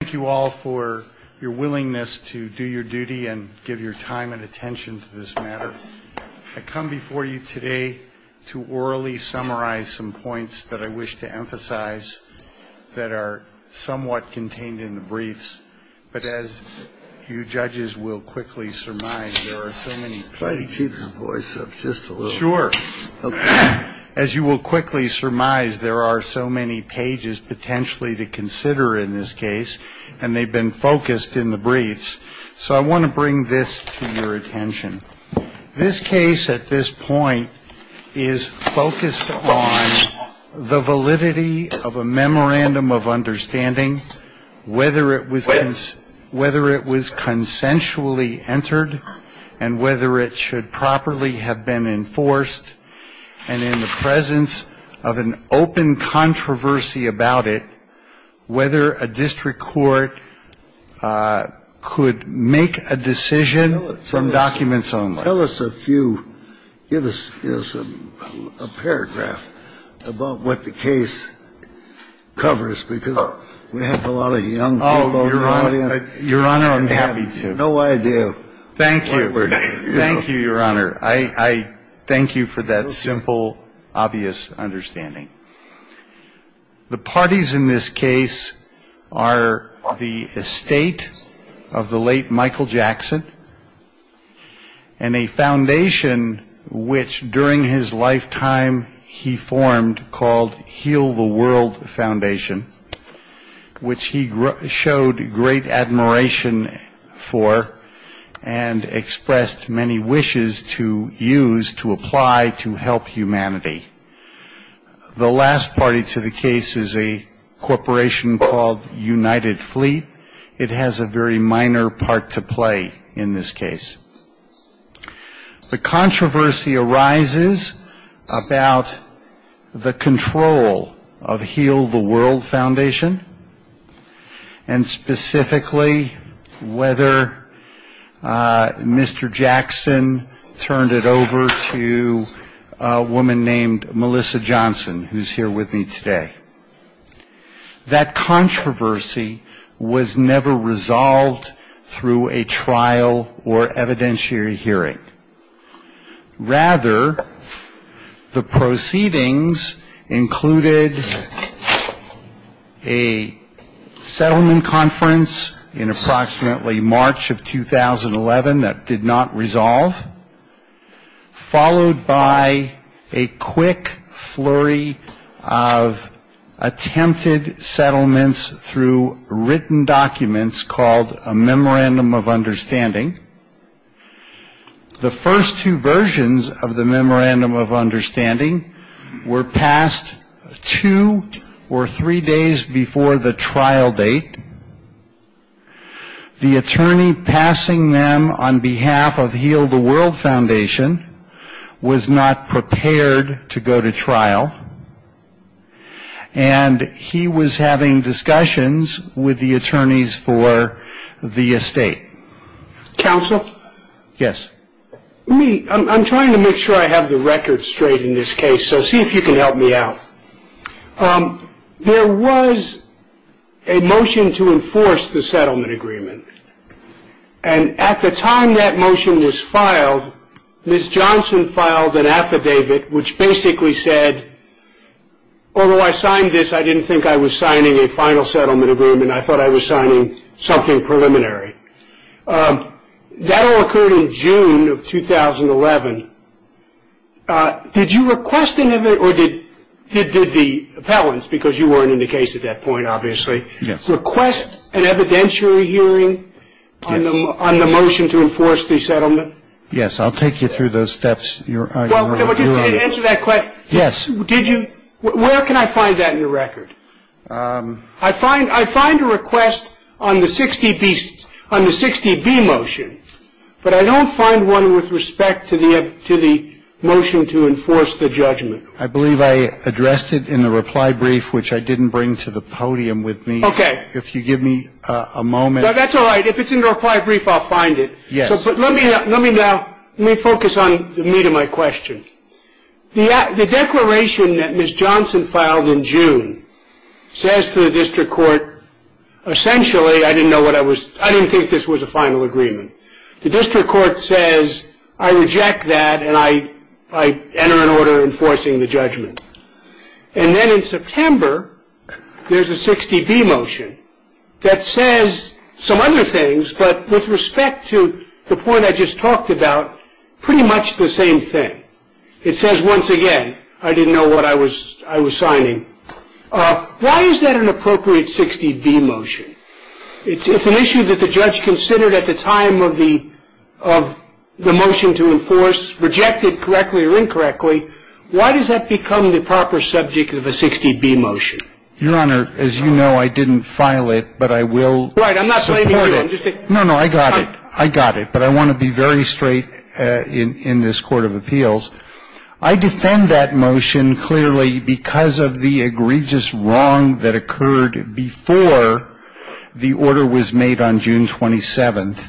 Thank you all for your willingness to do your duty and give your time and attention to this matter. I come before you today to orally summarize some points that I wish to emphasize that are somewhat contained in the briefs. But as you judges will quickly surmise, there are so many. Try to keep your voice up just a little. Sure. As you will quickly surmise, there are so many pages potentially to consider in this case, and they've been focused in the briefs. So I want to bring this to your attention. This case at this point is focused on the validity of a memorandum of understanding, whether it was whether it was consensually entered and whether it should properly have been enforced. And in the presence of an open controversy about it, whether a district court could make a decision from documents only. Tell us a few. Give us a paragraph about what the case covers, because we have a lot of young people in the audience. Your Honor, I'm happy to. No, I do. Thank you. Thank you, Your Honor. I thank you for that simple, obvious understanding. The parties in this case are the estate of the late Michael Jackson and a foundation which during his lifetime he formed called Heal the World Foundation, which he showed great admiration for and expressed many wishes to use to apply to help humanity. The last party to the case is a corporation called United Fleet. It has a very minor part to play in this case. The controversy arises about the control of Heal the World Foundation and specifically whether Mr. Jackson turned it over to a woman named Melissa Johnson, who's here with me today. That controversy was never resolved through a trial or evidentiary hearing. Rather, the proceedings included a settlement conference in approximately March of 2011 that did not resolve, followed by a quick flurry of attempted settlements through written documents called a Memorandum of Understanding. The first two versions of the Memorandum of Understanding were passed two or three days before the trial date. The attorney passing them on behalf of Heal the World Foundation was not prepared to go to trial, and he was having discussions with the attorneys for the estate. Counsel? Yes. I'm trying to make sure I have the record straight in this case, so see if you can help me out. There was a motion to enforce the settlement agreement, and at the time that motion was filed, Ms. Johnson filed an affidavit which basically said, although I signed this, I didn't think I was signing a final settlement agreement. I thought I was signing something preliminary. That all occurred in June of 2011. Did you request an evidentiary, or did the appellants, because you weren't in the case at that point, obviously, request an evidentiary hearing on the motion to enforce the settlement? Yes, I'll take you through those steps. Answer that question. Yes. Where can I find that in your record? I find a request on the 60B motion, but I don't find one with respect to the motion to enforce the judgment. I believe I addressed it in the reply brief, which I didn't bring to the podium with me. Okay. If you give me a moment. That's all right. If it's in the reply brief, I'll find it. Yes. But let me now focus on the meat of my question. The declaration that Ms. Johnson filed in June says to the district court, essentially, I didn't think this was a final agreement. The district court says, I reject that, and I enter an order enforcing the judgment. And then in September, there's a 60B motion that says some other things, but with respect to the point I just talked about, pretty much the same thing. It says, once again, I didn't know what I was signing. Why is that an appropriate 60B motion? It's an issue that the judge considered at the time of the motion to enforce, rejected correctly or incorrectly. Why does that become the proper subject of a 60B motion? Your Honor, as you know, I didn't file it, but I will support it. Right. I'm not blaming you. No, no, I got it. I got it. But I want to be very straight in this court of appeals. I defend that motion clearly because of the egregious wrong that occurred before the order was made on June 27th.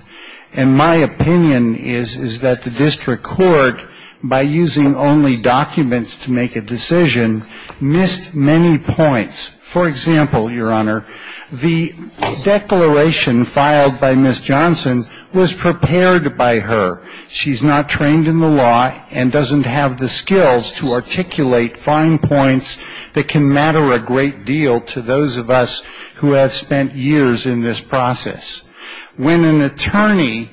And my opinion is, is that the district court, by using only documents to make a decision, missed many points. For example, Your Honor, the declaration filed by Ms. Johnson was prepared by her. She's not trained in the law and doesn't have the skills to articulate fine points that can matter a great deal to those of us who have spent years in this process. When an attorney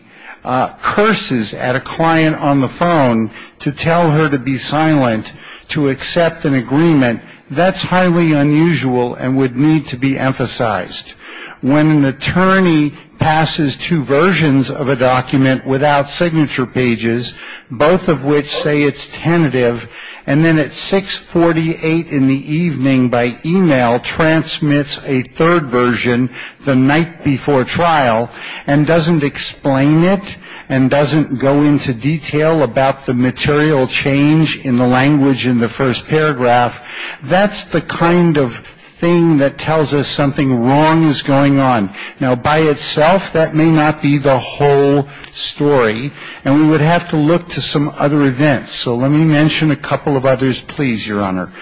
curses at a client on the phone to tell her to be silent, to accept an agreement, that's highly unusual and would need to be emphasized. When an attorney passes two versions of a document without signature pages, both of which say it's tentative, and then at 648 in the evening by e-mail transmits a third version the night before trial and doesn't explain it and doesn't go into detail about the material change in the language in the first paragraph, that's the kind of thing that tells us something wrong is going on. Now, by itself, that may not be the whole story. And we would have to look to some other events. So let me mention a couple of others, please, Your Honor.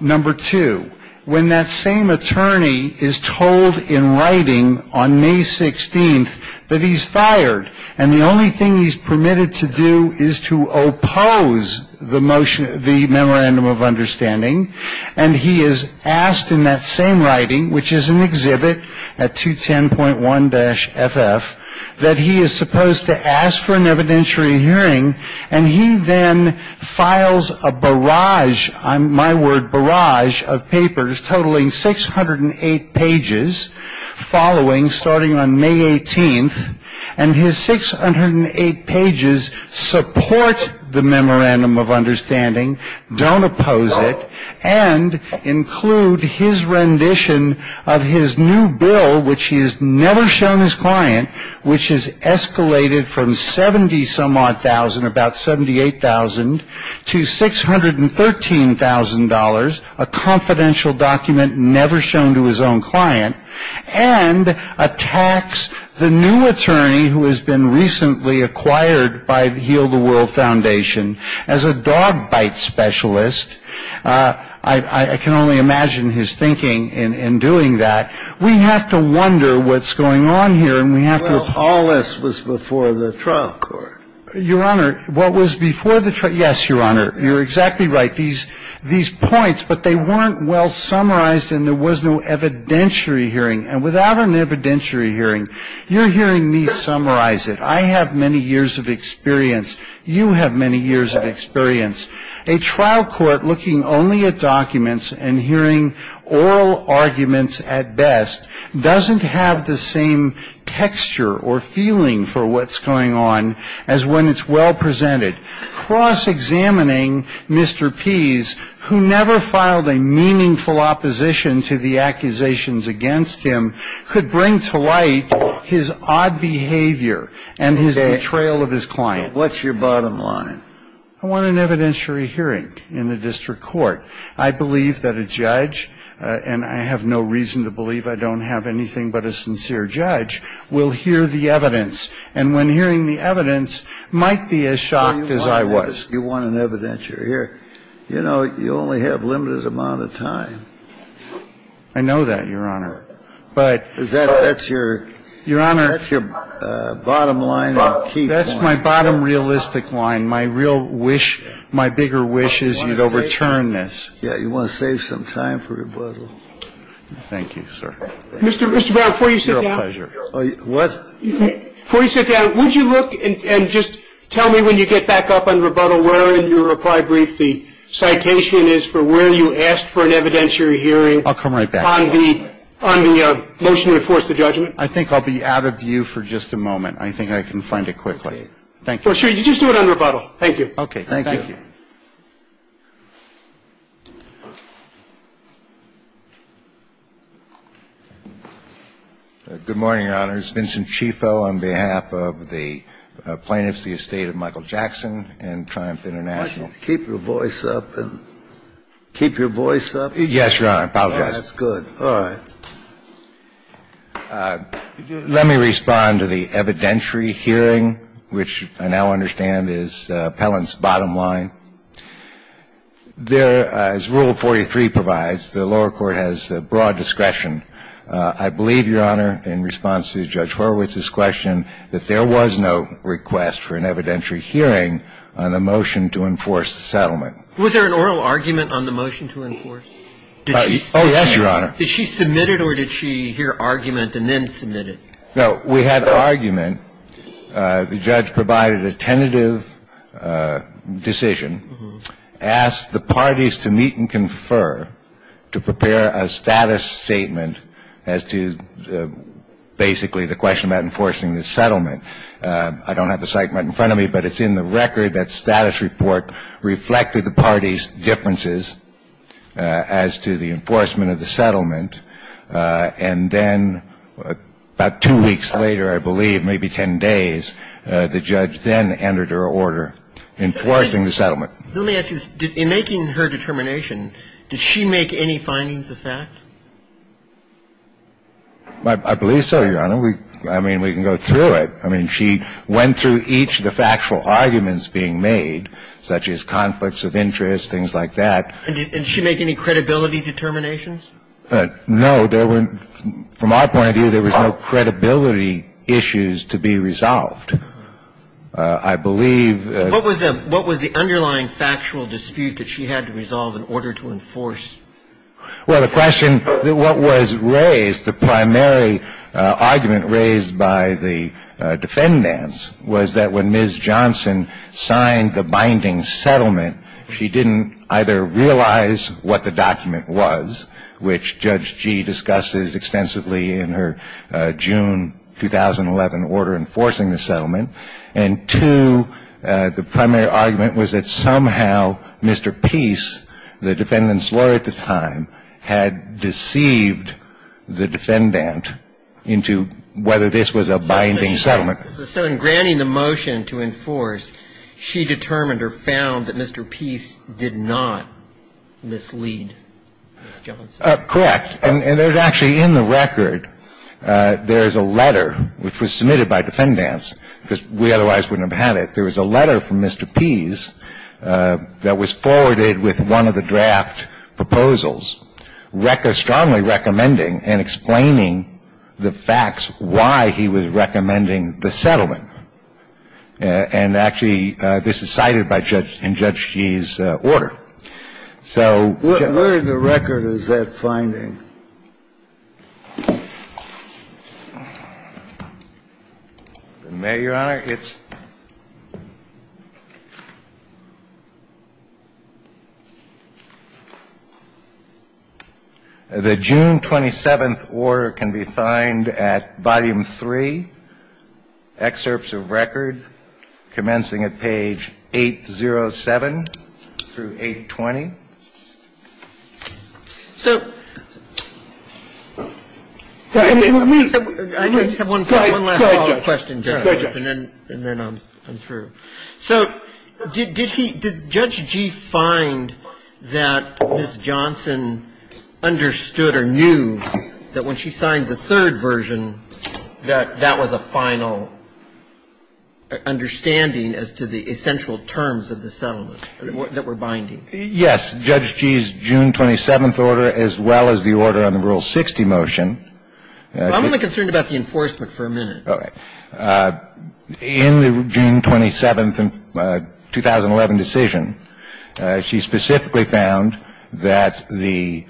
Number two, when that same attorney is told in writing on May 16th that he's fired and the only thing he's permitted to do is to oppose the motion, the memorandum of understanding, and he is asked in that same writing, which is an exhibit at 210.1-FF, that he is supposed to ask for an evidentiary hearing, and he then files a barrage, my word, barrage, of papers totaling 608 pages following, starting on May 18th, and his 608 pages support the memorandum of understanding, don't oppose it, and include his rendition of his new bill, which he has never shown his client, which has escalated from 70-some-odd thousand, about 78,000, to $613,000, a confidential document never shown to his own client, and attacks the new attorney who has been recently acquired by the Heal the World Foundation as a dog bite specialist. I can only imagine his thinking in doing that. We have to wonder what's going on here, and we have to oppose it. Well, all this was before the trial court. Your Honor, what was before the trial court, yes, Your Honor, you're exactly right. These points, but they weren't well summarized and there was no evidentiary hearing. And without an evidentiary hearing, you're hearing me summarize it. I have many years of experience. You have many years of experience. A trial court looking only at documents and hearing oral arguments at best doesn't have the same texture or feeling for what's going on as when it's well presented. Cross-examining Mr. Pease, who never filed a meaningful opposition to the accusations against him, could bring to light his odd behavior and his betrayal of his client. What's your bottom line? I want an evidentiary hearing in the district court. I believe that a judge, and I have no reason to believe I don't have anything but a sincere judge, will hear the evidence, and when hearing the evidence, might be as shocked as I was. You want an evidentiary hearing. You know, you only have a limited amount of time. I know that, Your Honor. But that's your bottom line and key point. That's my bottom realistic line. My real wish, my bigger wish is you'd overturn this. Yeah, you want to save some time for rebuttal. Thank you, sir. Mr. Brown, before you sit down. You're a pleasure. What? Before you sit down, would you look and just tell me when you get back up on rebuttal where in your reply brief the citation is for where you asked for an evidentiary hearing. I'll come right back. On the motion to enforce the judgment. I think I'll be out of view for just a moment. I think I can find it quickly. Thank you. Sure. You just do it on rebuttal. Thank you. Okay. Thank you. Good morning, Your Honors. Vincent Cifo on behalf of the plaintiffs, the estate of Michael Jackson and Triumph International. Keep your voice up. Keep your voice up. Yes, Your Honor. I apologize. That's good. All right. Let me respond to the evidentiary hearing, which I now understand is Pellan's bottom line. There, as Rule 43 provides, the lower court has broad discretion. I believe, Your Honor, in response to Judge Horowitz's question, that there was no request for an evidentiary hearing on the motion to enforce the settlement. Was there an oral argument on the motion to enforce? Oh, yes, Your Honor. Did she submit it or did she hear argument and then submit it? No, we had argument. The judge provided a tentative decision, asked the parties to meet and confer to prepare a status statement as to basically the question about enforcing the settlement. I don't have the site right in front of me, but it's in the record that status report reflected the parties' differences as to the enforcement of the settlement. And then about two weeks later, I believe, maybe 10 days, the judge then entered her order enforcing the settlement. Let me ask you this. In making her determination, did she make any findings of fact? I believe so, Your Honor. I mean, we can go through it. I mean, she went through each of the factual arguments being made, such as conflicts of interest, things like that. And did she make any credibility determinations? No. There weren't. From our point of view, there was no credibility issues to be resolved. I believe that the question was raised. What was the underlying factual dispute that she had to resolve in order to enforce the settlement? The argument raised by the defendants was that when Ms. Johnson signed the binding settlement, she didn't either realize what the document was, which Judge Gee discusses extensively in her June 2011 order enforcing the settlement, and two, the primary argument was that somehow Mr. Peace, the defendant's lawyer at the time, had deceived the defendant into whether this was a binding settlement. So in granting the motion to enforce, she determined or found that Mr. Peace did not mislead Ms. Johnson? Correct. And there's actually in the record, there is a letter which was submitted by defendants because we otherwise wouldn't have had it. There was a letter from Mr. Peace that was forwarded with one of the draft proposals strongly recommending and explaining the facts why he was recommending the settlement. And actually, this is cited by Judge Gee in Judge Gee's order. So get my point. The June 27th order can be found at Volume 3, Excerpts of Record, commencing at page 807 through 820. So did Judge Gee find that Ms. Johnson understood or knew that when she signed the third version that that was a final understanding as to the essential terms of the settlement that were binding? Yes. That's Judge Gee's June 27th order as well as the order on the Rule 60 motion. I'm only concerned about the enforcement for a minute. Okay. In the June 27th, 2011 decision, she specifically found that the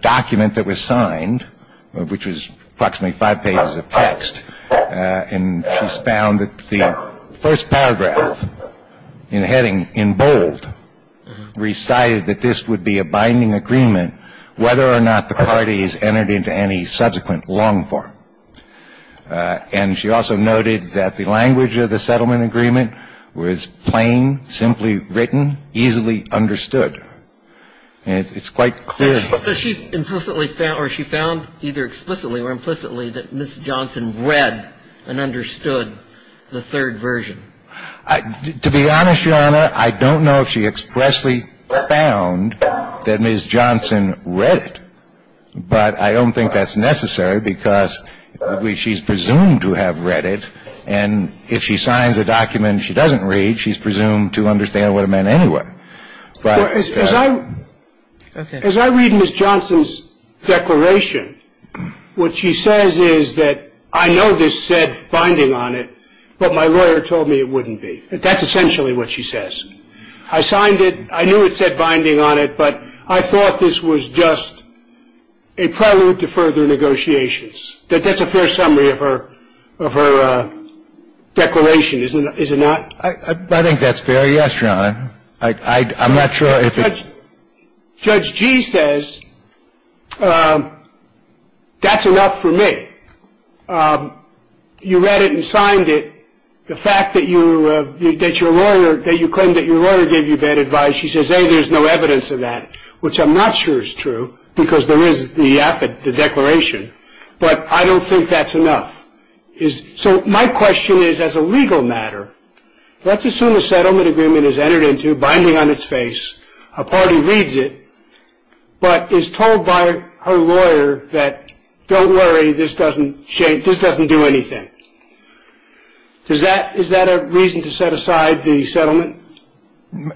document that was signed, which was approximately five pages of text, and she found that the first paragraph in the heading in bold recited that this would be a binding agreement whether or not the parties entered into any subsequent long form. And she also noted that the language of the settlement agreement was plain, simply written, easily understood. And it's quite clear. So she implicitly found or she found either explicitly or implicitly that Ms. Johnson read and understood the third version. To be honest, Your Honor, I don't know if she expressly found that Ms. Johnson read it. But I don't think that's necessary because she's presumed to have read it. And if she signs a document she doesn't read, she's presumed to understand what it meant anyway. As I read Ms. Johnson's declaration, what she says is that I know this said binding on it, but my lawyer told me it wouldn't be. That's essentially what she says. I signed it. I knew it said binding on it, but I thought this was just a prelude to further negotiations. That's a fair summary of her declaration, is it not? I think that's fair. Yes, Your Honor. I'm not sure if it's. Judge G. says that's enough for me. You read it and signed it. The fact that you claim that your lawyer gave you bad advice, she says, hey, there's no evidence of that, which I'm not sure is true because there is the affid, the declaration. But I don't think that's enough. So my question is, as a legal matter, let's assume a settlement agreement is entered into binding on its face, a party reads it, but is told by her lawyer that don't worry, this doesn't do anything. Is that a reason to set aside the settlement?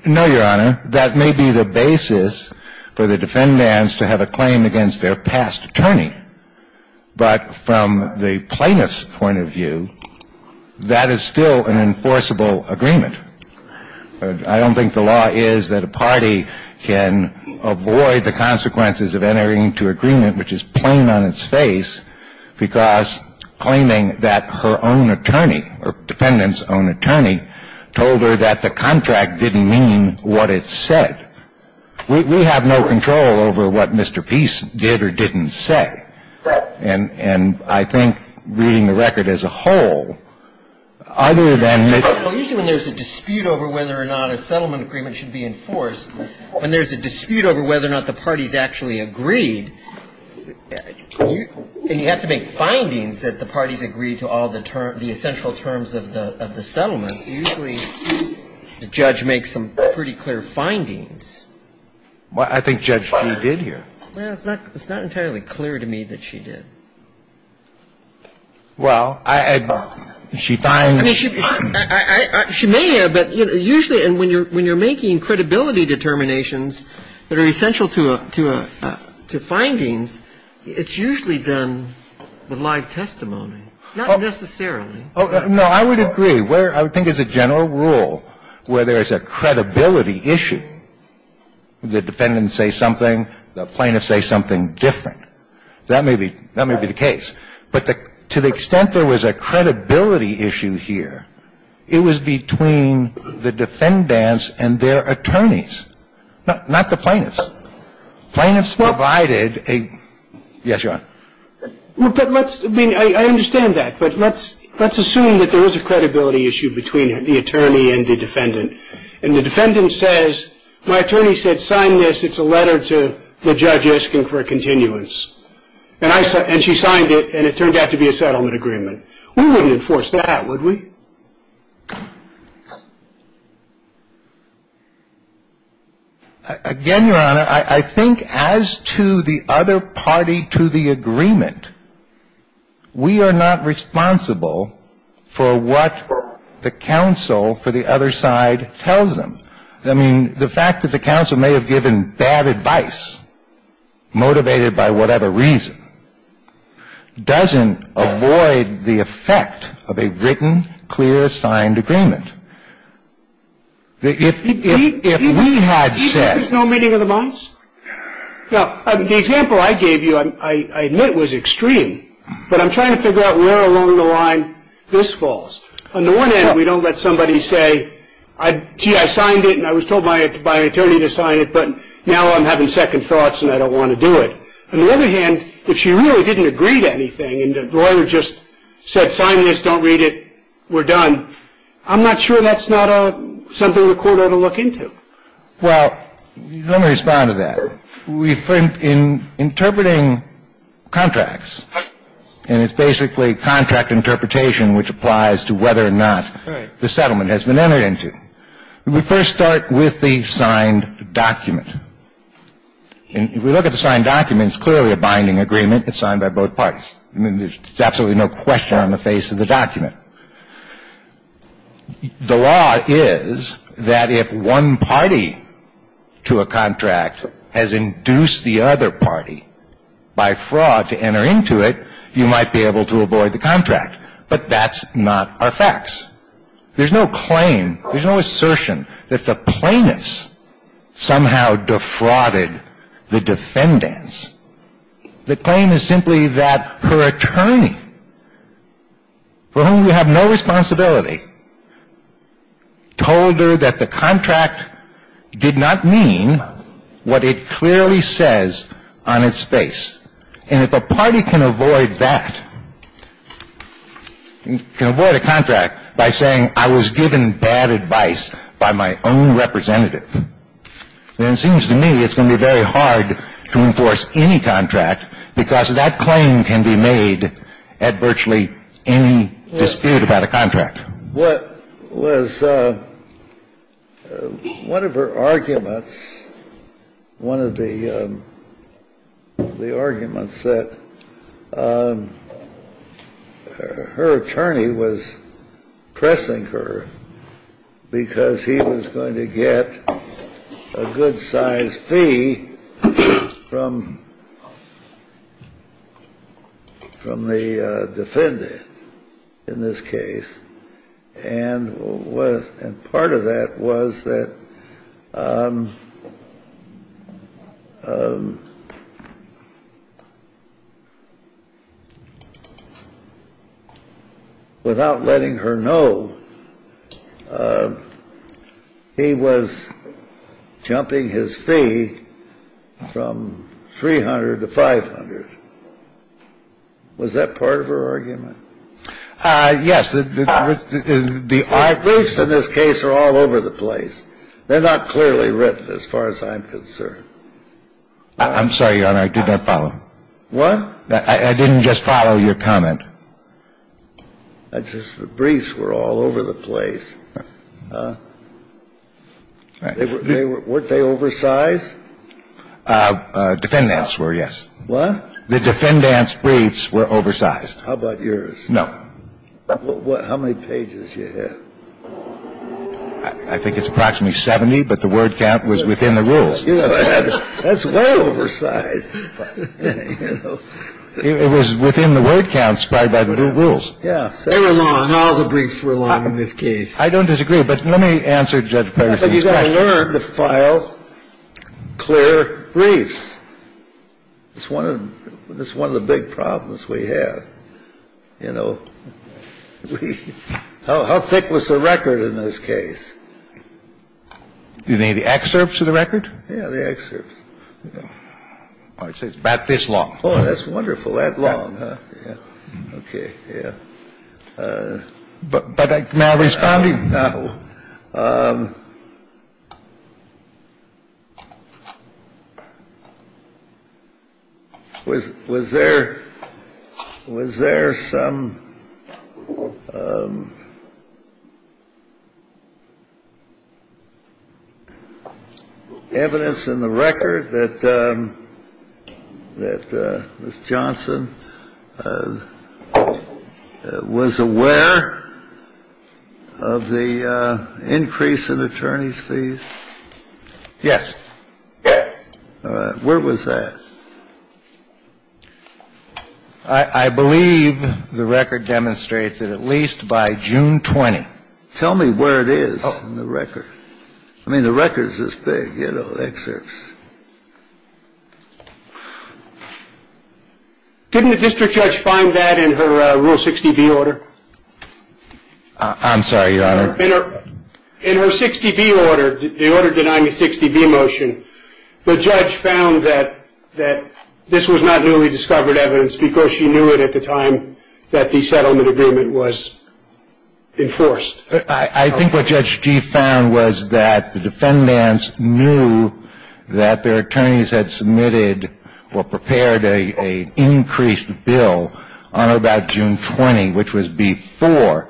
No, Your Honor. That may be the basis for the defendants to have a claim against their past attorney. But from the plaintiff's point of view, that is still an enforceable agreement. I don't think the law is that a party can avoid the consequences of entering into agreement, which is plain on its face, because claiming that her own attorney or defendant's own attorney told her that the contract didn't mean what it said. We have no control over what Mr. Peace did or didn't say. Right. And I think reading the record as a whole, other than Mr. Peace, I don't think there's a dispute over whether or not a settlement agreement should be enforced. When there's a dispute over whether or not the parties actually agreed, and you have to make findings that the parties agreed to all the essential terms of the settlement, usually the judge makes some pretty clear findings. I think Judge Fee did here. It's not entirely clear to me that she did. Well, I don't know. I mean, she may have, but usually when you're making credibility determinations that are essential to findings, it's usually done with live testimony, not necessarily. No. I would agree. I think it's a general rule where there is a credibility issue. The defendants say something. The plaintiffs say something different. That may be the case. But to the extent there was a credibility issue here, it was between the defendants and their attorneys, not the plaintiffs. Plaintiffs provided a — yes, Your Honor. But let's — I mean, I understand that. But let's assume that there is a credibility issue between the attorney and the defendant. And the defendant says, my attorney said sign this. It's a letter to the judge asking for a continuance. And she signed it, and it turned out to be a settlement agreement. We wouldn't enforce that, would we? Again, Your Honor, I think as to the other party to the agreement, we are not responsible for what the counsel for the other side tells them. I mean, the fact that the counsel may have given bad advice, motivated by whatever reason, doesn't avoid the effect of a written, clear, signed agreement. If we had said — Do you think there's no meaning to the violence? No. The example I gave you, I admit, was extreme. But I'm trying to figure out where along the line this falls. On the one hand, we don't let somebody say, gee, I signed it and I was told by an attorney to sign it, but now I'm having second thoughts and I don't want to do it. On the other hand, if she really didn't agree to anything and the lawyer just said sign this, don't read it, we're done, I'm not sure that's not something the court ought to look into. Well, let me respond to that. In interpreting contracts, and it's basically contract interpretation which applies to whether or not the settlement has been entered into, we first start with the signed document. And if we look at the signed document, it's clearly a binding agreement. It's signed by both parties. I mean, there's absolutely no question on the face of the document. The law is that if one party to a contract has induced the other party by fraud to enter into it, you might be able to avoid the contract. But that's not our facts. There's no claim, there's no assertion that the plaintiffs somehow defrauded the defendants. The claim is simply that her attorney, for whom we have no responsibility, told her that the contract did not mean what it clearly says on its face. And if a party can avoid that, can avoid a contract by saying I was given bad advice by my own representative, then it seems to me it's going to be very hard to enforce any contract because that claim can be made at virtually any dispute about a contract. What was one of her arguments, one of the arguments that her attorney was pressing her because he was going to get a good-sized fee from the defendant in this case. And part of that was that without letting her know, he was jumping his fee from 300 to 500. Was that part of her argument? Yes. The briefs in this case are all over the place. They're not clearly written as far as I'm concerned. I'm sorry, Your Honor, I did not follow. What? I didn't just follow your comment. It's just the briefs were all over the place. Weren't they oversized? Defendants were, yes. What? The defendants' briefs were oversized. How about yours? No. How many pages did you have? I think it's approximately 70, but the word count was within the rules. That's way oversized. It was within the word count spied by the rules. Yes. They were long. All the briefs were long in this case. I don't disagree. But let me answer Judge Perry's question. But you've got to learn to file clear briefs. It's one of the big problems we have, you know. How thick was the record in this case? You mean the excerpts of the record? Yeah, the excerpts. I'd say it's about this long. Oh, that's wonderful. That long, huh? Okay. Yeah. But I'm not responding. No. Was there some evidence in the record that Ms. Johnson was aware of the increase in attorneys' fees? Yes. Where was that? I believe the record demonstrates that at least by June 20. Tell me where it is in the record. I mean, the record is this big, you know, the excerpts. Didn't the district judge find that in her Rule 60B order? I'm sorry, Your Honor. In her 60B order, the order denying the 60B motion, the judge found that this was not newly discovered evidence because she knew it at the time that the settlement agreement was enforced. I think what Judge Gee found was that the defendants knew that their attorneys had submitted or prepared an increased bill on or about June 20, which was before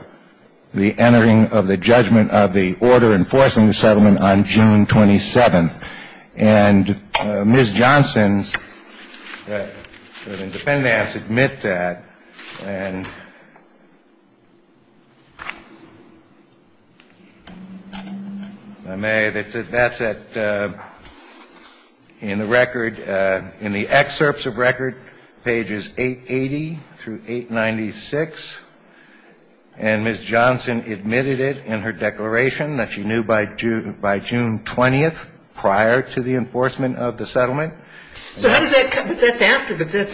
the entering of the judgment of the order enforcing the settlement on June 27. And Ms. Johnson, the defendants admit that. And if I may, that's in the record, in the excerpts of record, pages 880 through 896. And Ms. Johnson admitted it in her declaration that she knew by June 20 prior to the enforcement of the settlement. So how does that come up? That's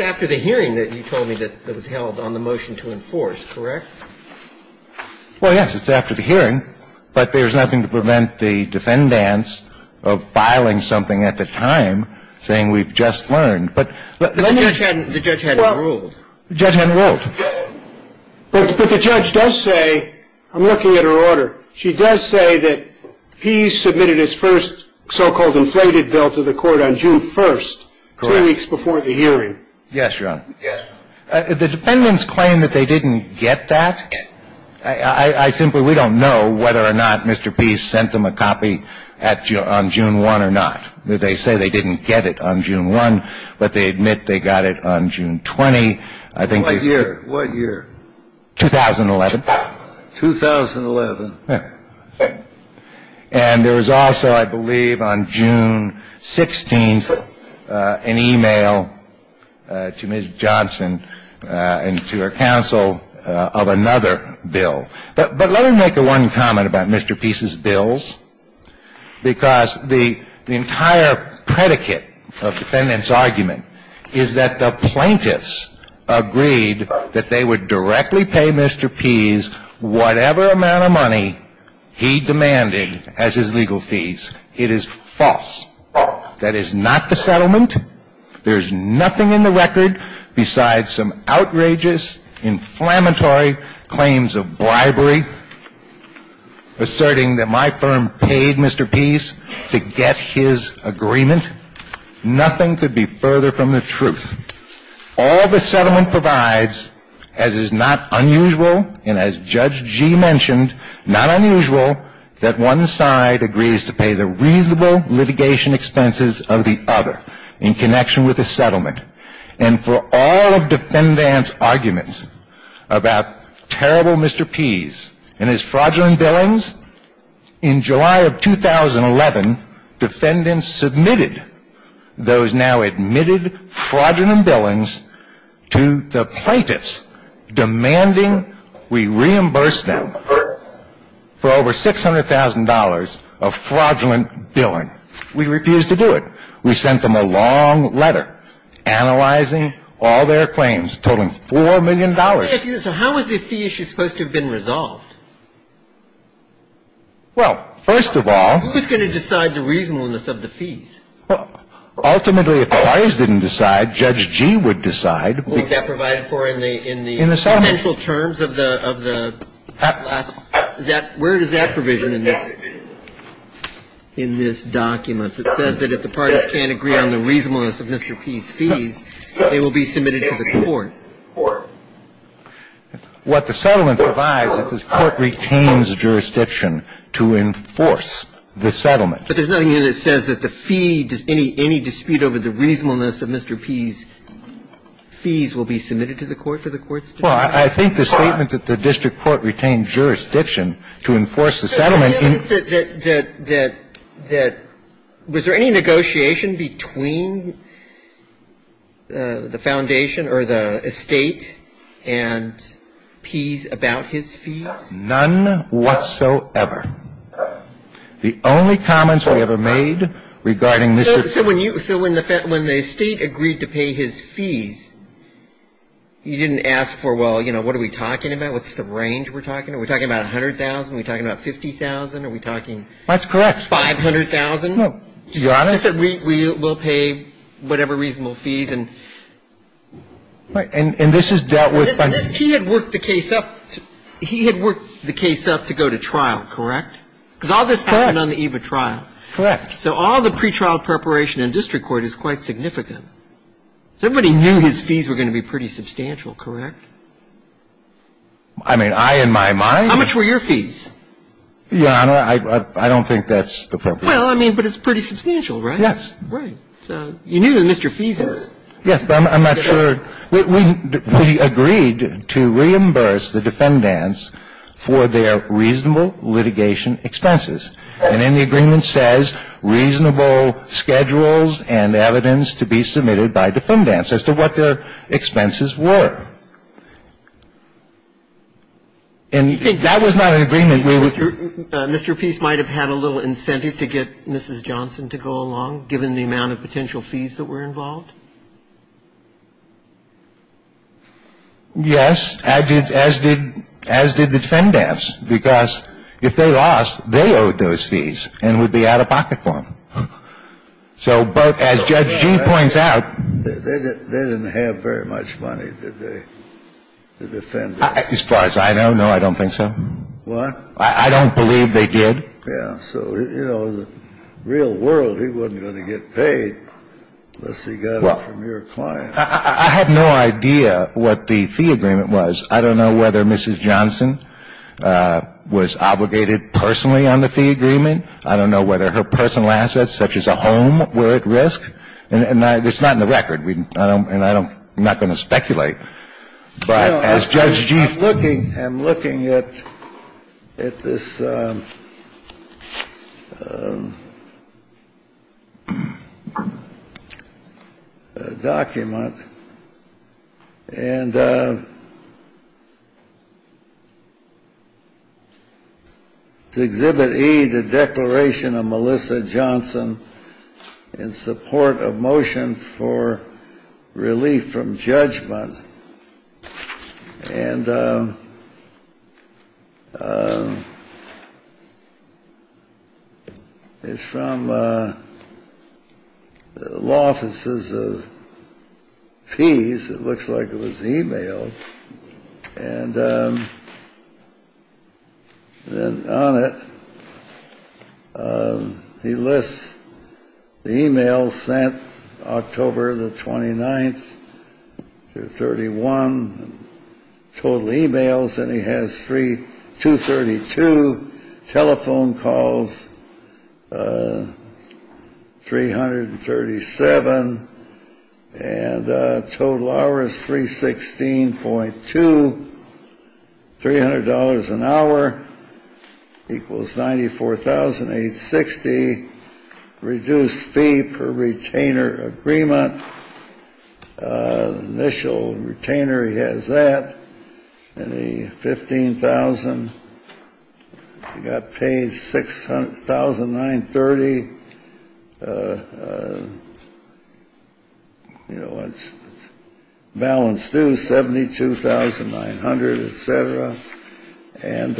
after the hearing that you told me that was held on the motion to enforce, correct? Well, yes. It's after the hearing. But there's nothing to prevent the defendants of filing something at the time saying we've just learned. The judge hadn't ruled. The judge hadn't ruled. But the judge does say, I'm looking at her order. She does say that he submitted his first so-called inflated bill to the court on June 1, two weeks before the hearing. Yes, Your Honor. The defendants claim that they didn't get that. I simply, we don't know whether or not Mr. Pease sent them a copy on June 1 or not. They say they didn't get it on June 1, but they admit they got it on June 20. What year? What year? 2011. And there was also, I believe, on June 16 an e-mail to Ms. Johnson and to her counsel of another bill. But let me make one comment about Mr. Pease's bills, because the entire predicate of defendants' argument is that the plaintiffs agreed that they would directly pay Mr. Pease whatever amount of money he demanded as his legal fees. It is false. That is not the settlement. There's nothing in the record besides some outrageous, inflammatory claims of bribery, asserting that my firm paid Mr. Pease to get his agreement. Nothing could be further from the truth. All the settlement provides, as is not unusual, and as Judge Gee mentioned, not unusual, that one side agrees to pay the reasonable litigation expenses of the other in connection with the settlement. And for all of defendants' arguments about terrible Mr. Pease and his fraudulent billings, in July of 2011, defendants submitted those now-admitted fraudulent billings to the plaintiffs, demanding we reimburse them for over $600,000 of fraudulent billing. We refused to do it. We sent them a long letter analyzing all their claims, totaling $4 million. So how is the fee issue supposed to have been resolved? Well, first of all — Who's going to decide the reasonableness of the fees? Ultimately, if the parties didn't decide, Judge Gee would decide. What would that provide for in the — In the settlement. What is the essential terms of the — That — Where is that provision in this — In this document that says that if the parties can't agree on the reasonableness of Mr. Pease's fees, they will be submitted to the court. What the settlement provides is the Court retains jurisdiction to enforce the settlement. But there's nothing here that says that the fee — Any dispute over the reasonableness of Mr. Pease's fees will be submitted to the court for the court's — Well, I think the statement that the district court retains jurisdiction to enforce the settlement — That — Was there any negotiation between the foundation or the estate and Pease about his fees? None whatsoever. The only comments we ever made regarding Mr. — So when you — so when the — when the estate agreed to pay his fees, you didn't ask for, well, you know, what are we talking about, what's the range we're talking about? Are we talking about $100,000? Are we talking about $50,000? Are we talking — That's correct. $500,000? No. Do you want it? Just that we will pay whatever reasonable fees and — And this is dealt with by — He had worked the case up to — He had worked the case up to go to trial, correct? Correct. Because all this happened on the eve of trial. Correct. So all the pretrial preparation in district court is quite significant. So everybody knew his fees were going to be pretty substantial, correct? I mean, I, in my mind — How much were your fees? Your Honor, I don't think that's appropriate. Well, I mean, but it's pretty substantial, right? Yes. Right. So you knew that Mr. Pease's — Yes, but I'm not sure — We agreed to reimburse the defendants for their reasonable litigation expenses. And then the agreement says reasonable schedules and evidence to be submitted by defendants as to what their expenses were. And that was not an agreement we would — Mr. Pease might have had a little incentive to get Mrs. Johnson to go along, given the amount of potential fees that were involved? Yes, as did the defendants, because if they lost, they owed those fees and would be out of pocket for them. So, but as Judge G points out — They didn't have very much money, did they, the defendants? As far as I know, no, I don't think so. What? I don't believe they did. Well, I mean, I think you get out of the room, you're going to get paid for that, so you know, in the real world he wasn't going to get paid unless he got it from your client. I have no idea what the fee agreement was. I don't know whether Mrs. Johnson was obligated personally on the fee agreement. I don't know whether her personal assets, such as a home, were at risk, and it's not on the record, and I'm not going to speculate. But as Judge Jeef... I'm looking at this document, and to Exhibit E, the declaration of Melissa Johnson in support of motion for relief from judgment, and it's from law offices of fees. It looks like it was e-mailed. And then on it, he lists the e-mails sent October the 29th through 31, total e-mails, and he has 232 telephone calls, 337. And total hours, 316.2, $300 an hour equals $94,860. And then on it, he lists the fee, reduced fee per retainer agreement, initial retainer, he has that, and the $15,000, he got paid $6,930, you know, balance due, $72,900, et cetera. And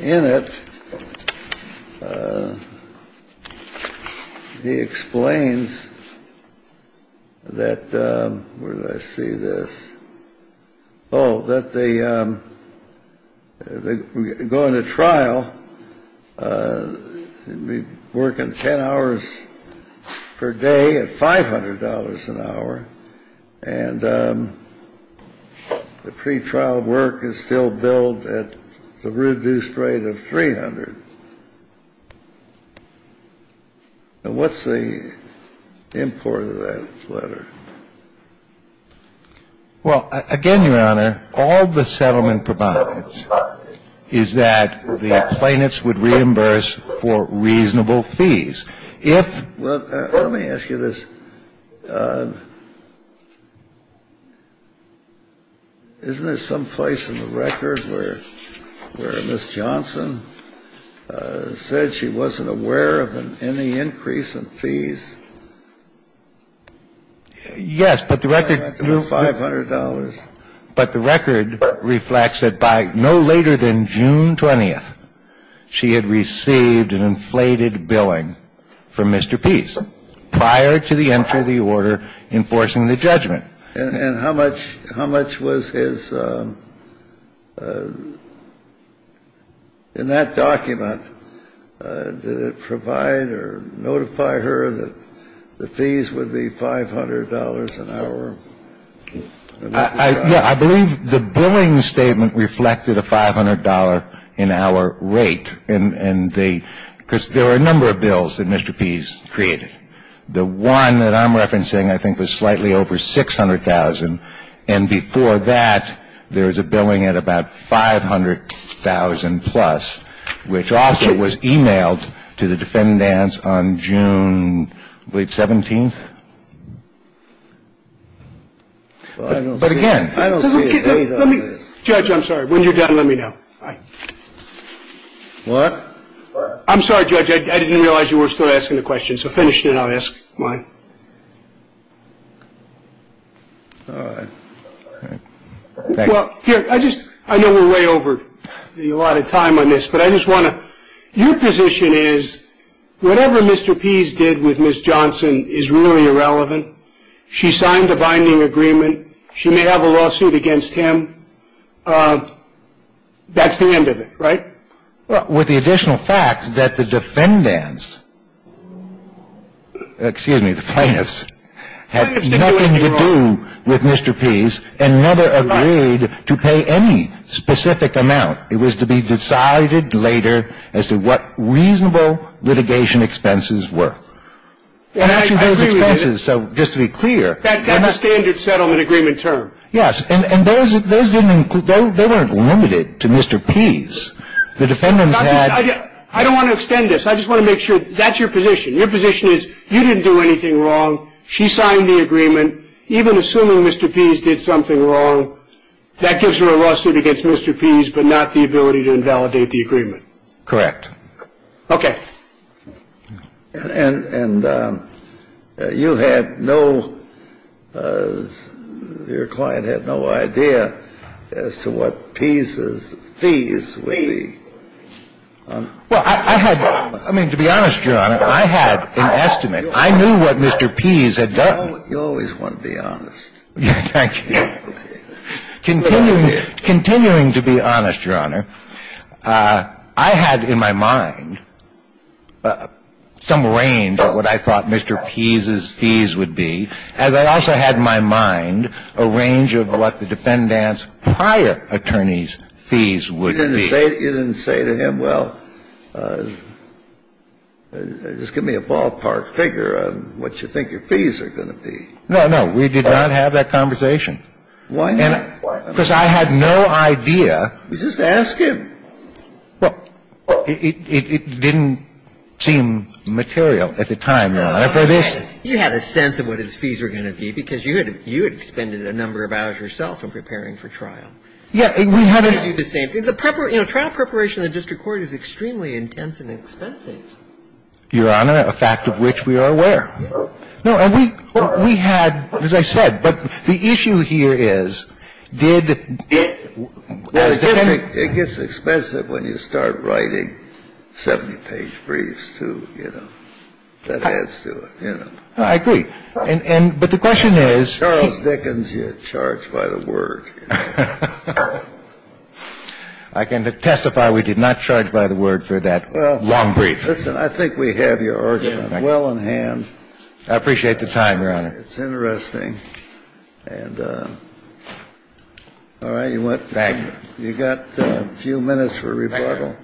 in it, he explains that — where did I see this? Oh, that the — going to trial, working 10 hours per day at $500 an hour, and the pretrial work is still billed at the reduced rate of $300. And what's the import of that letter? Well, again, Your Honor, all the settlement provides is that the plaintiffs would reimburse for reasonable fees. Well, let me ask you this. Isn't there some place in the record where Ms. Johnson said she wasn't aware of any increase in fees? Yes, but the record — $500. But the record reflects that by no later than June 20th, she had received an inflated billing from Mr. Peace prior to the entry of the order enforcing the judgment. And how much — how much was his — in that document, did it provide or notify her that the fees would be $500 an hour? Yeah. I believe the billing statement reflected a $500-an-hour rate in the — because there were a number of bills that Mr. Peace created. The one that I'm referencing, I think, was slightly over $600,000. And before that, there was a billing at about $500,000-plus, which also was emailed to the defendant on June, I believe, 17th. But again — Judge, I'm sorry. When you're done, let me know. All right. What? I'm sorry, Judge. I didn't realize you were still asking the question, so finish it and I'll ask mine. All right. Thank you. Well, here, I just — I know we're way over a lot of time on this, but I just want to — my question is, whatever Mr. Peace did with Ms. Johnson is really irrelevant. She signed a binding agreement. She may have a lawsuit against him. That's the end of it, right? Well, with the additional fact that the defendants — excuse me, the plaintiffs had nothing to do with Mr. Peace and never agreed to pay any specific amount. It was to be decided later as to what reasonable litigation expenses were. And actually, those expenses — I agree with you. So just to be clear — That's a standard settlement agreement term. Yes. And those didn't — they weren't limited to Mr. Peace. The defendants had — I don't want to extend this. I just want to make sure — that's your position. Your position is, you didn't do anything wrong. She signed the agreement. Even assuming Mr. Peace did something wrong, that gives her a lawsuit against Mr. Peace, but not the ability to invalidate the agreement. Correct. Okay. And you had no — your client had no idea as to what Peace's fees would be. Well, I had — I mean, to be honest, Your Honor, I had an estimate. I knew what Mr. Peace had done. You always want to be honest. Thank you. Continuing to be honest, Your Honor, I had in my mind some range of what I thought Mr. Peace's fees would be, as I also had in my mind a range of what the defendant's prior attorney's fees would be. You didn't say to him, well, just give me a ballpark figure on what you think your client's fees would be. No, no. We did not have that conversation. Why not? Because I had no idea. You just asked him. Well, it didn't seem material at the time, Your Honor, for this. You had a sense of what his fees were going to be because you had — you had expended a number of hours yourself in preparing for trial. Yes. We had a — You didn't do the same thing. You know, trial preparation in the district court is extremely intense and expensive. Your Honor, a fact of which we are aware. No, and we had — as I said, but the issue here is, did — It gets expensive when you start writing 70-page briefs to, you know, that adds to it, you know. I agree. But the question is — Charles Dickens, you're charged by the word. I can testify we did not charge by the word for that long brief. I think we have your argument well in hand. I appreciate the time, Your Honor. It's interesting. And all right, you went. Thank you. You've got a few minutes for rebuttal. Thank you, Your Honor.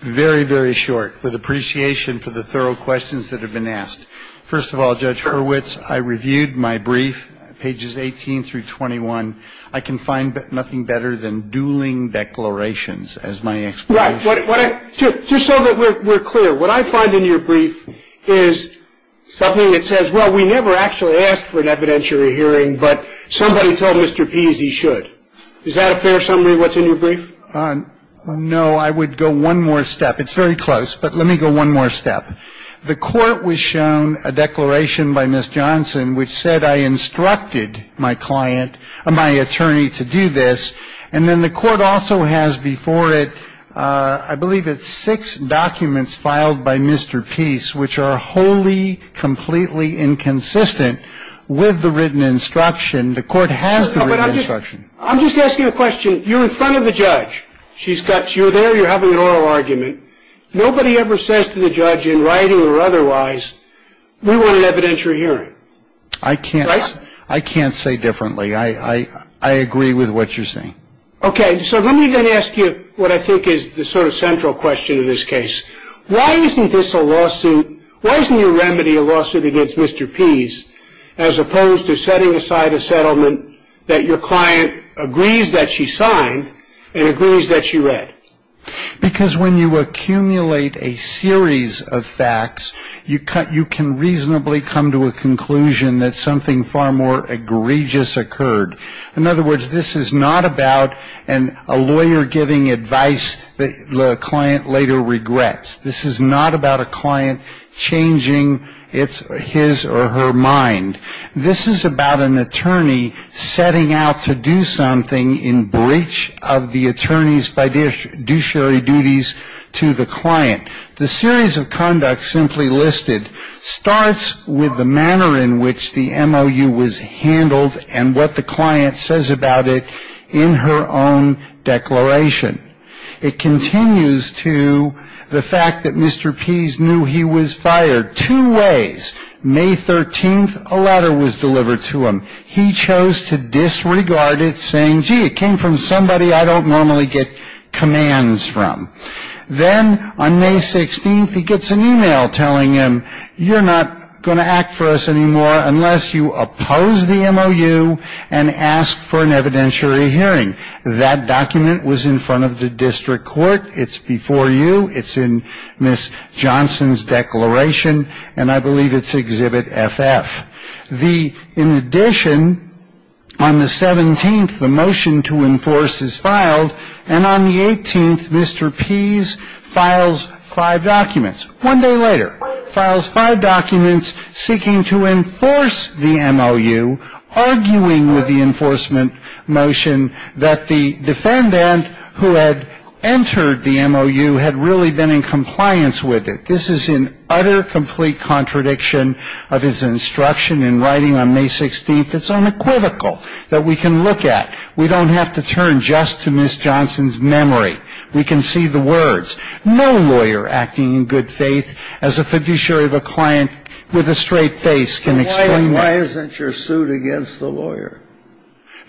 Very, very short, with appreciation for the thorough questions that have been asked. First of all, Judge Hurwitz, I reviewed my brief, pages 18 through 21. I can find nothing better than dueling declarations as my explanation. Right. Just so that we're clear, what I find in your brief is something that says, well, we never actually asked for an evidentiary hearing, but somebody told Mr. Pease he should. Is that a fair summary of what's in your brief? No. I would go one more step. It's very close, but let me go one more step. The court was shown a declaration by Ms. Johnson which said I instructed my client, my attorney, to do this. And then the court also has before it, I believe it's six documents filed by Mr. Pease, which are wholly, completely inconsistent with the written instruction. The court has the written instruction. I'm just asking a question. You're in front of the judge. You're there. You're having an oral argument. Nobody ever says to the judge in writing or otherwise, we want an evidentiary hearing. Right? I can't say differently. I agree with what you're saying. Okay. So let me then ask you what I think is the sort of central question in this case. Why isn't this a lawsuit? Why isn't your remedy a lawsuit against Mr. Pease as opposed to setting aside a settlement that your client agrees that she signed and agrees that she read? Because when you accumulate a series of facts, you can reasonably come to a conclusion that something far more egregious occurred. In other words, this is not about a lawyer giving advice that the client later regrets. This is not about a client changing his or her mind. This is about an attorney setting out to do something in breach of the attorney's fiduciary duties to the client. The series of conduct simply listed starts with the manner in which the MOU was handled and what the client says about it in her own declaration. It continues to the fact that Mr. Pease knew he was fired two ways. May 13th, a letter was delivered to him. He chose to disregard it, saying, gee, it came from somebody I don't normally get commands from. Then on May 16th, he gets an e-mail telling him, you're not going to act for us anymore unless you oppose the MOU and ask for an evidentiary hearing. That document was in front of the district court. It's before you. It's in Ms. Johnson's declaration. And I believe it's Exhibit FF. In addition, on the 17th, the motion to enforce is filed. And on the 18th, Mr. Pease files five documents. One day later, files five documents seeking to enforce the MOU, arguing with the enforcement motion that the defendant who had entered the MOU had really been in compliance with it. This is in utter, complete contradiction of his instruction in writing on May 16th. It's unequivocal that we can look at. We don't have to turn just to Ms. Johnson's memory. We can see the words. No lawyer acting in good faith as a fiduciary of a client with a straight face can explain that. Why isn't your suit against the lawyer?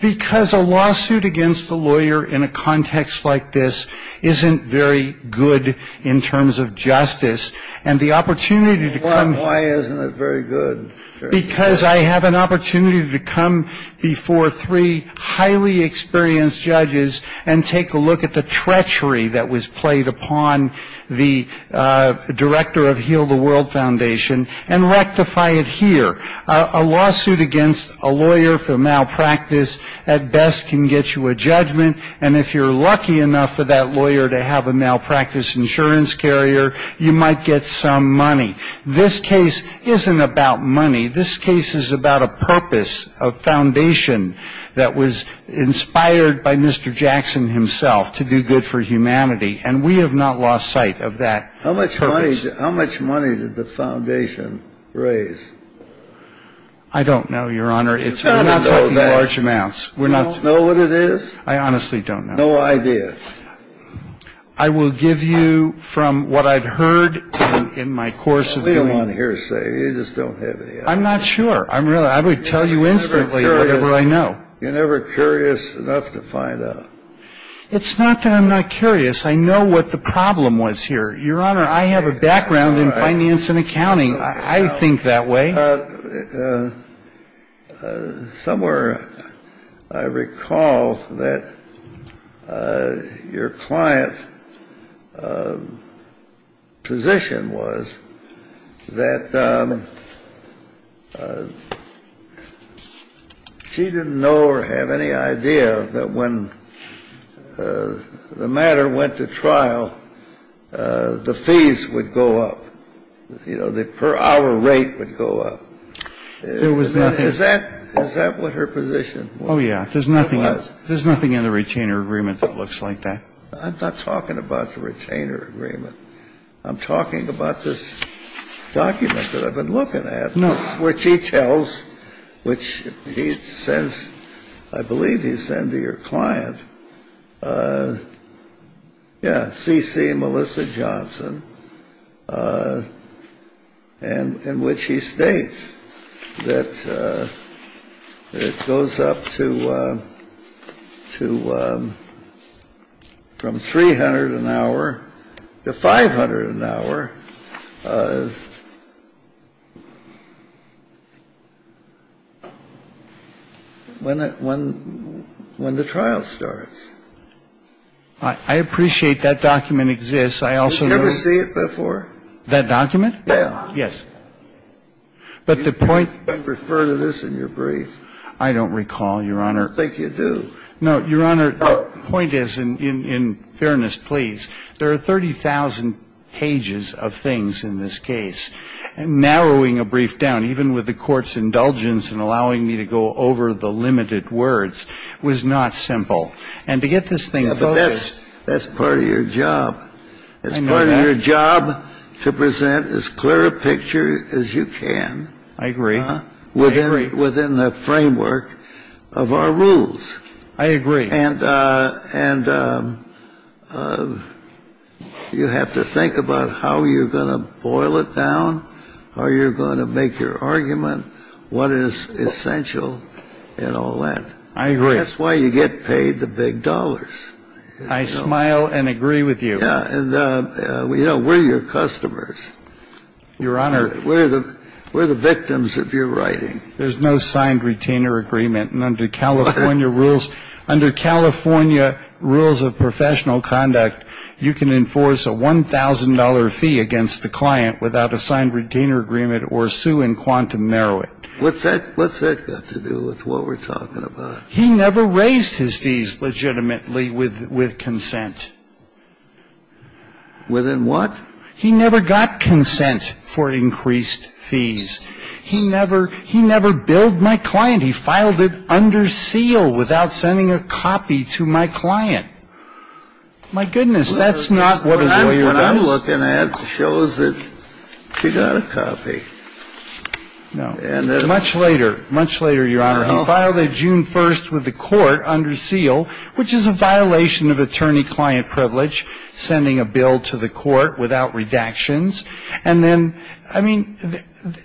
Because a lawsuit against a lawyer in a context like this isn't very good in terms of justice. And the opportunity to come. Why isn't it very good? Because I have an opportunity to come before three highly experienced judges and take a look at the treachery that was played upon the director of Heal the World Foundation and rectify it here. A lawsuit against a lawyer for malpractice at best can get you a judgment. And if you're lucky enough for that lawyer to have a malpractice insurance carrier, you might get some money. This case isn't about money. This case is about a purpose, a foundation that was inspired by Mr. Jackson himself to do good for humanity. And we have not lost sight of that. How much how much money did the foundation raise? I don't know, Your Honor. It's not all that large amounts. We're not know what it is. I honestly don't know. I did. I will give you from what I've heard in my course of being on hearsay. You just don't have it. I'm not sure. I'm really I would tell you instantly. I know you're never curious enough to find out. It's not that I'm not curious. I know what the problem was here. Your Honor, I have a background in finance and accounting. I think that way. Somewhere I recall that your client's position was that she didn't know or have any idea that when the matter went to trial, the fees would go up. You know, the per hour rate would go up. There was nothing. Is that what her position was? Oh, yeah. There's nothing in the retainer agreement that looks like that. I'm not talking about the retainer agreement. I'm talking about this document that I've been looking at. No. Which he tells which he says, I believe he said to your client. Yeah. When the trial starts. I appreciate that document exists. I also know. You've never seen it before? That document? Yeah. Yes. But the point. You didn't refer to this in your brief. I don't recall, Your Honor. I don't think you do. No, Your Honor, the point is, in fairness, please, there are 30,000 pages of things in this case. Narrowing a brief down, even with the Court's indulgence in allowing me to go over the limited words, was not simple. And to get this thing focused. Yeah, but that's part of your job. I know that. It's part of your job to present as clear a picture as you can. I agree. I agree. Within the framework of our rules. I agree. And you have to think about how you're going to boil it down, how you're going to make your argument, what is essential in all that. I agree. That's why you get paid the big dollars. I smile and agree with you. Yeah. And, you know, we're your customers. Your Honor. We're the victims of your writing. There's no signed retainer agreement. And under California rules of professional conduct, you can enforce a $1,000 fee against the client without a signed retainer agreement or sue in quantum narrow it. What's that got to do with what we're talking about? He never raised his fees legitimately with consent. Within what? He never got consent for increased fees. He never billed my client. He filed it under seal without sending a copy to my client. My goodness. That's not what a lawyer does. What I'm looking at shows that she got a copy. No. Much later. Much later, Your Honor. He filed it June 1st with the court under seal, which is a violation of attorney-client privilege, sending a bill to the court without redactions. And then I mean,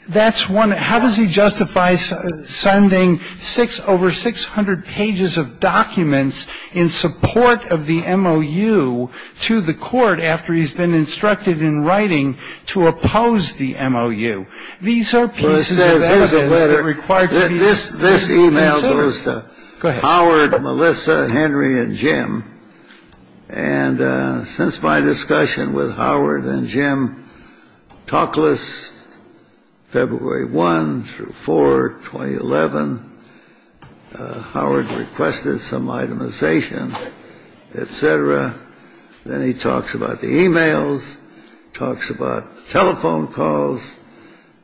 that's one. How does he justify sending six over 600 pages of documents in support of the MOU to the court after he's been instructed in writing to oppose the MOU? These are pieces of evidence that required this. This email goes to Howard, Melissa, Henry and Jim. And since my discussion with Howard and Jim talkless, February 1 through 4, 2011, Howard requested some itemization, et cetera. Then he talks about the emails, talks about telephone calls.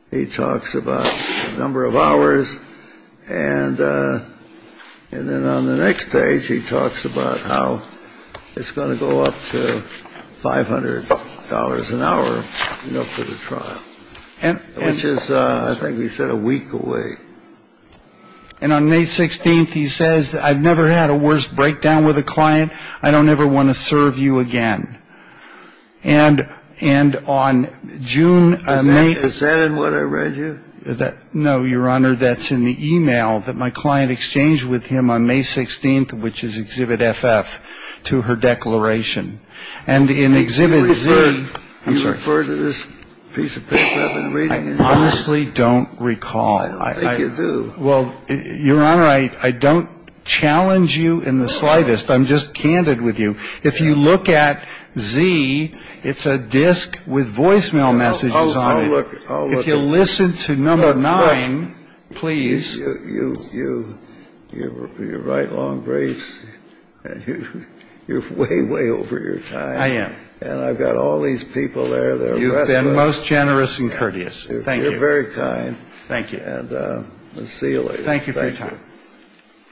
He talks about a number of hours. And then on the next page, he talks about how it's going to go up to $500 an hour, you know, for the trial. Which is, I think he said, a week away. And on May 16th, he says, I've never had a worse breakdown with a client. I don't ever want to serve you again. And on June. Is that in what I read you? No, Your Honor. That's in the email that my client exchanged with him on May 16th, which is Exhibit FF, to her declaration. And in Exhibit Z. You refer to this piece of paper I've been reading? I honestly don't recall. I don't think you do. Well, Your Honor, I don't challenge you in the slightest. I'm just candid with you. If you look at Z, it's a disk with voicemail messages on it. I'll look. If you listen to number nine, please. You're right, Long Grace. You're way, way over your time. I am. And I've got all these people there. You've been most generous and courteous. Thank you. You're very kind. Thank you. And we'll see you later. Thank you for your time. Thank you.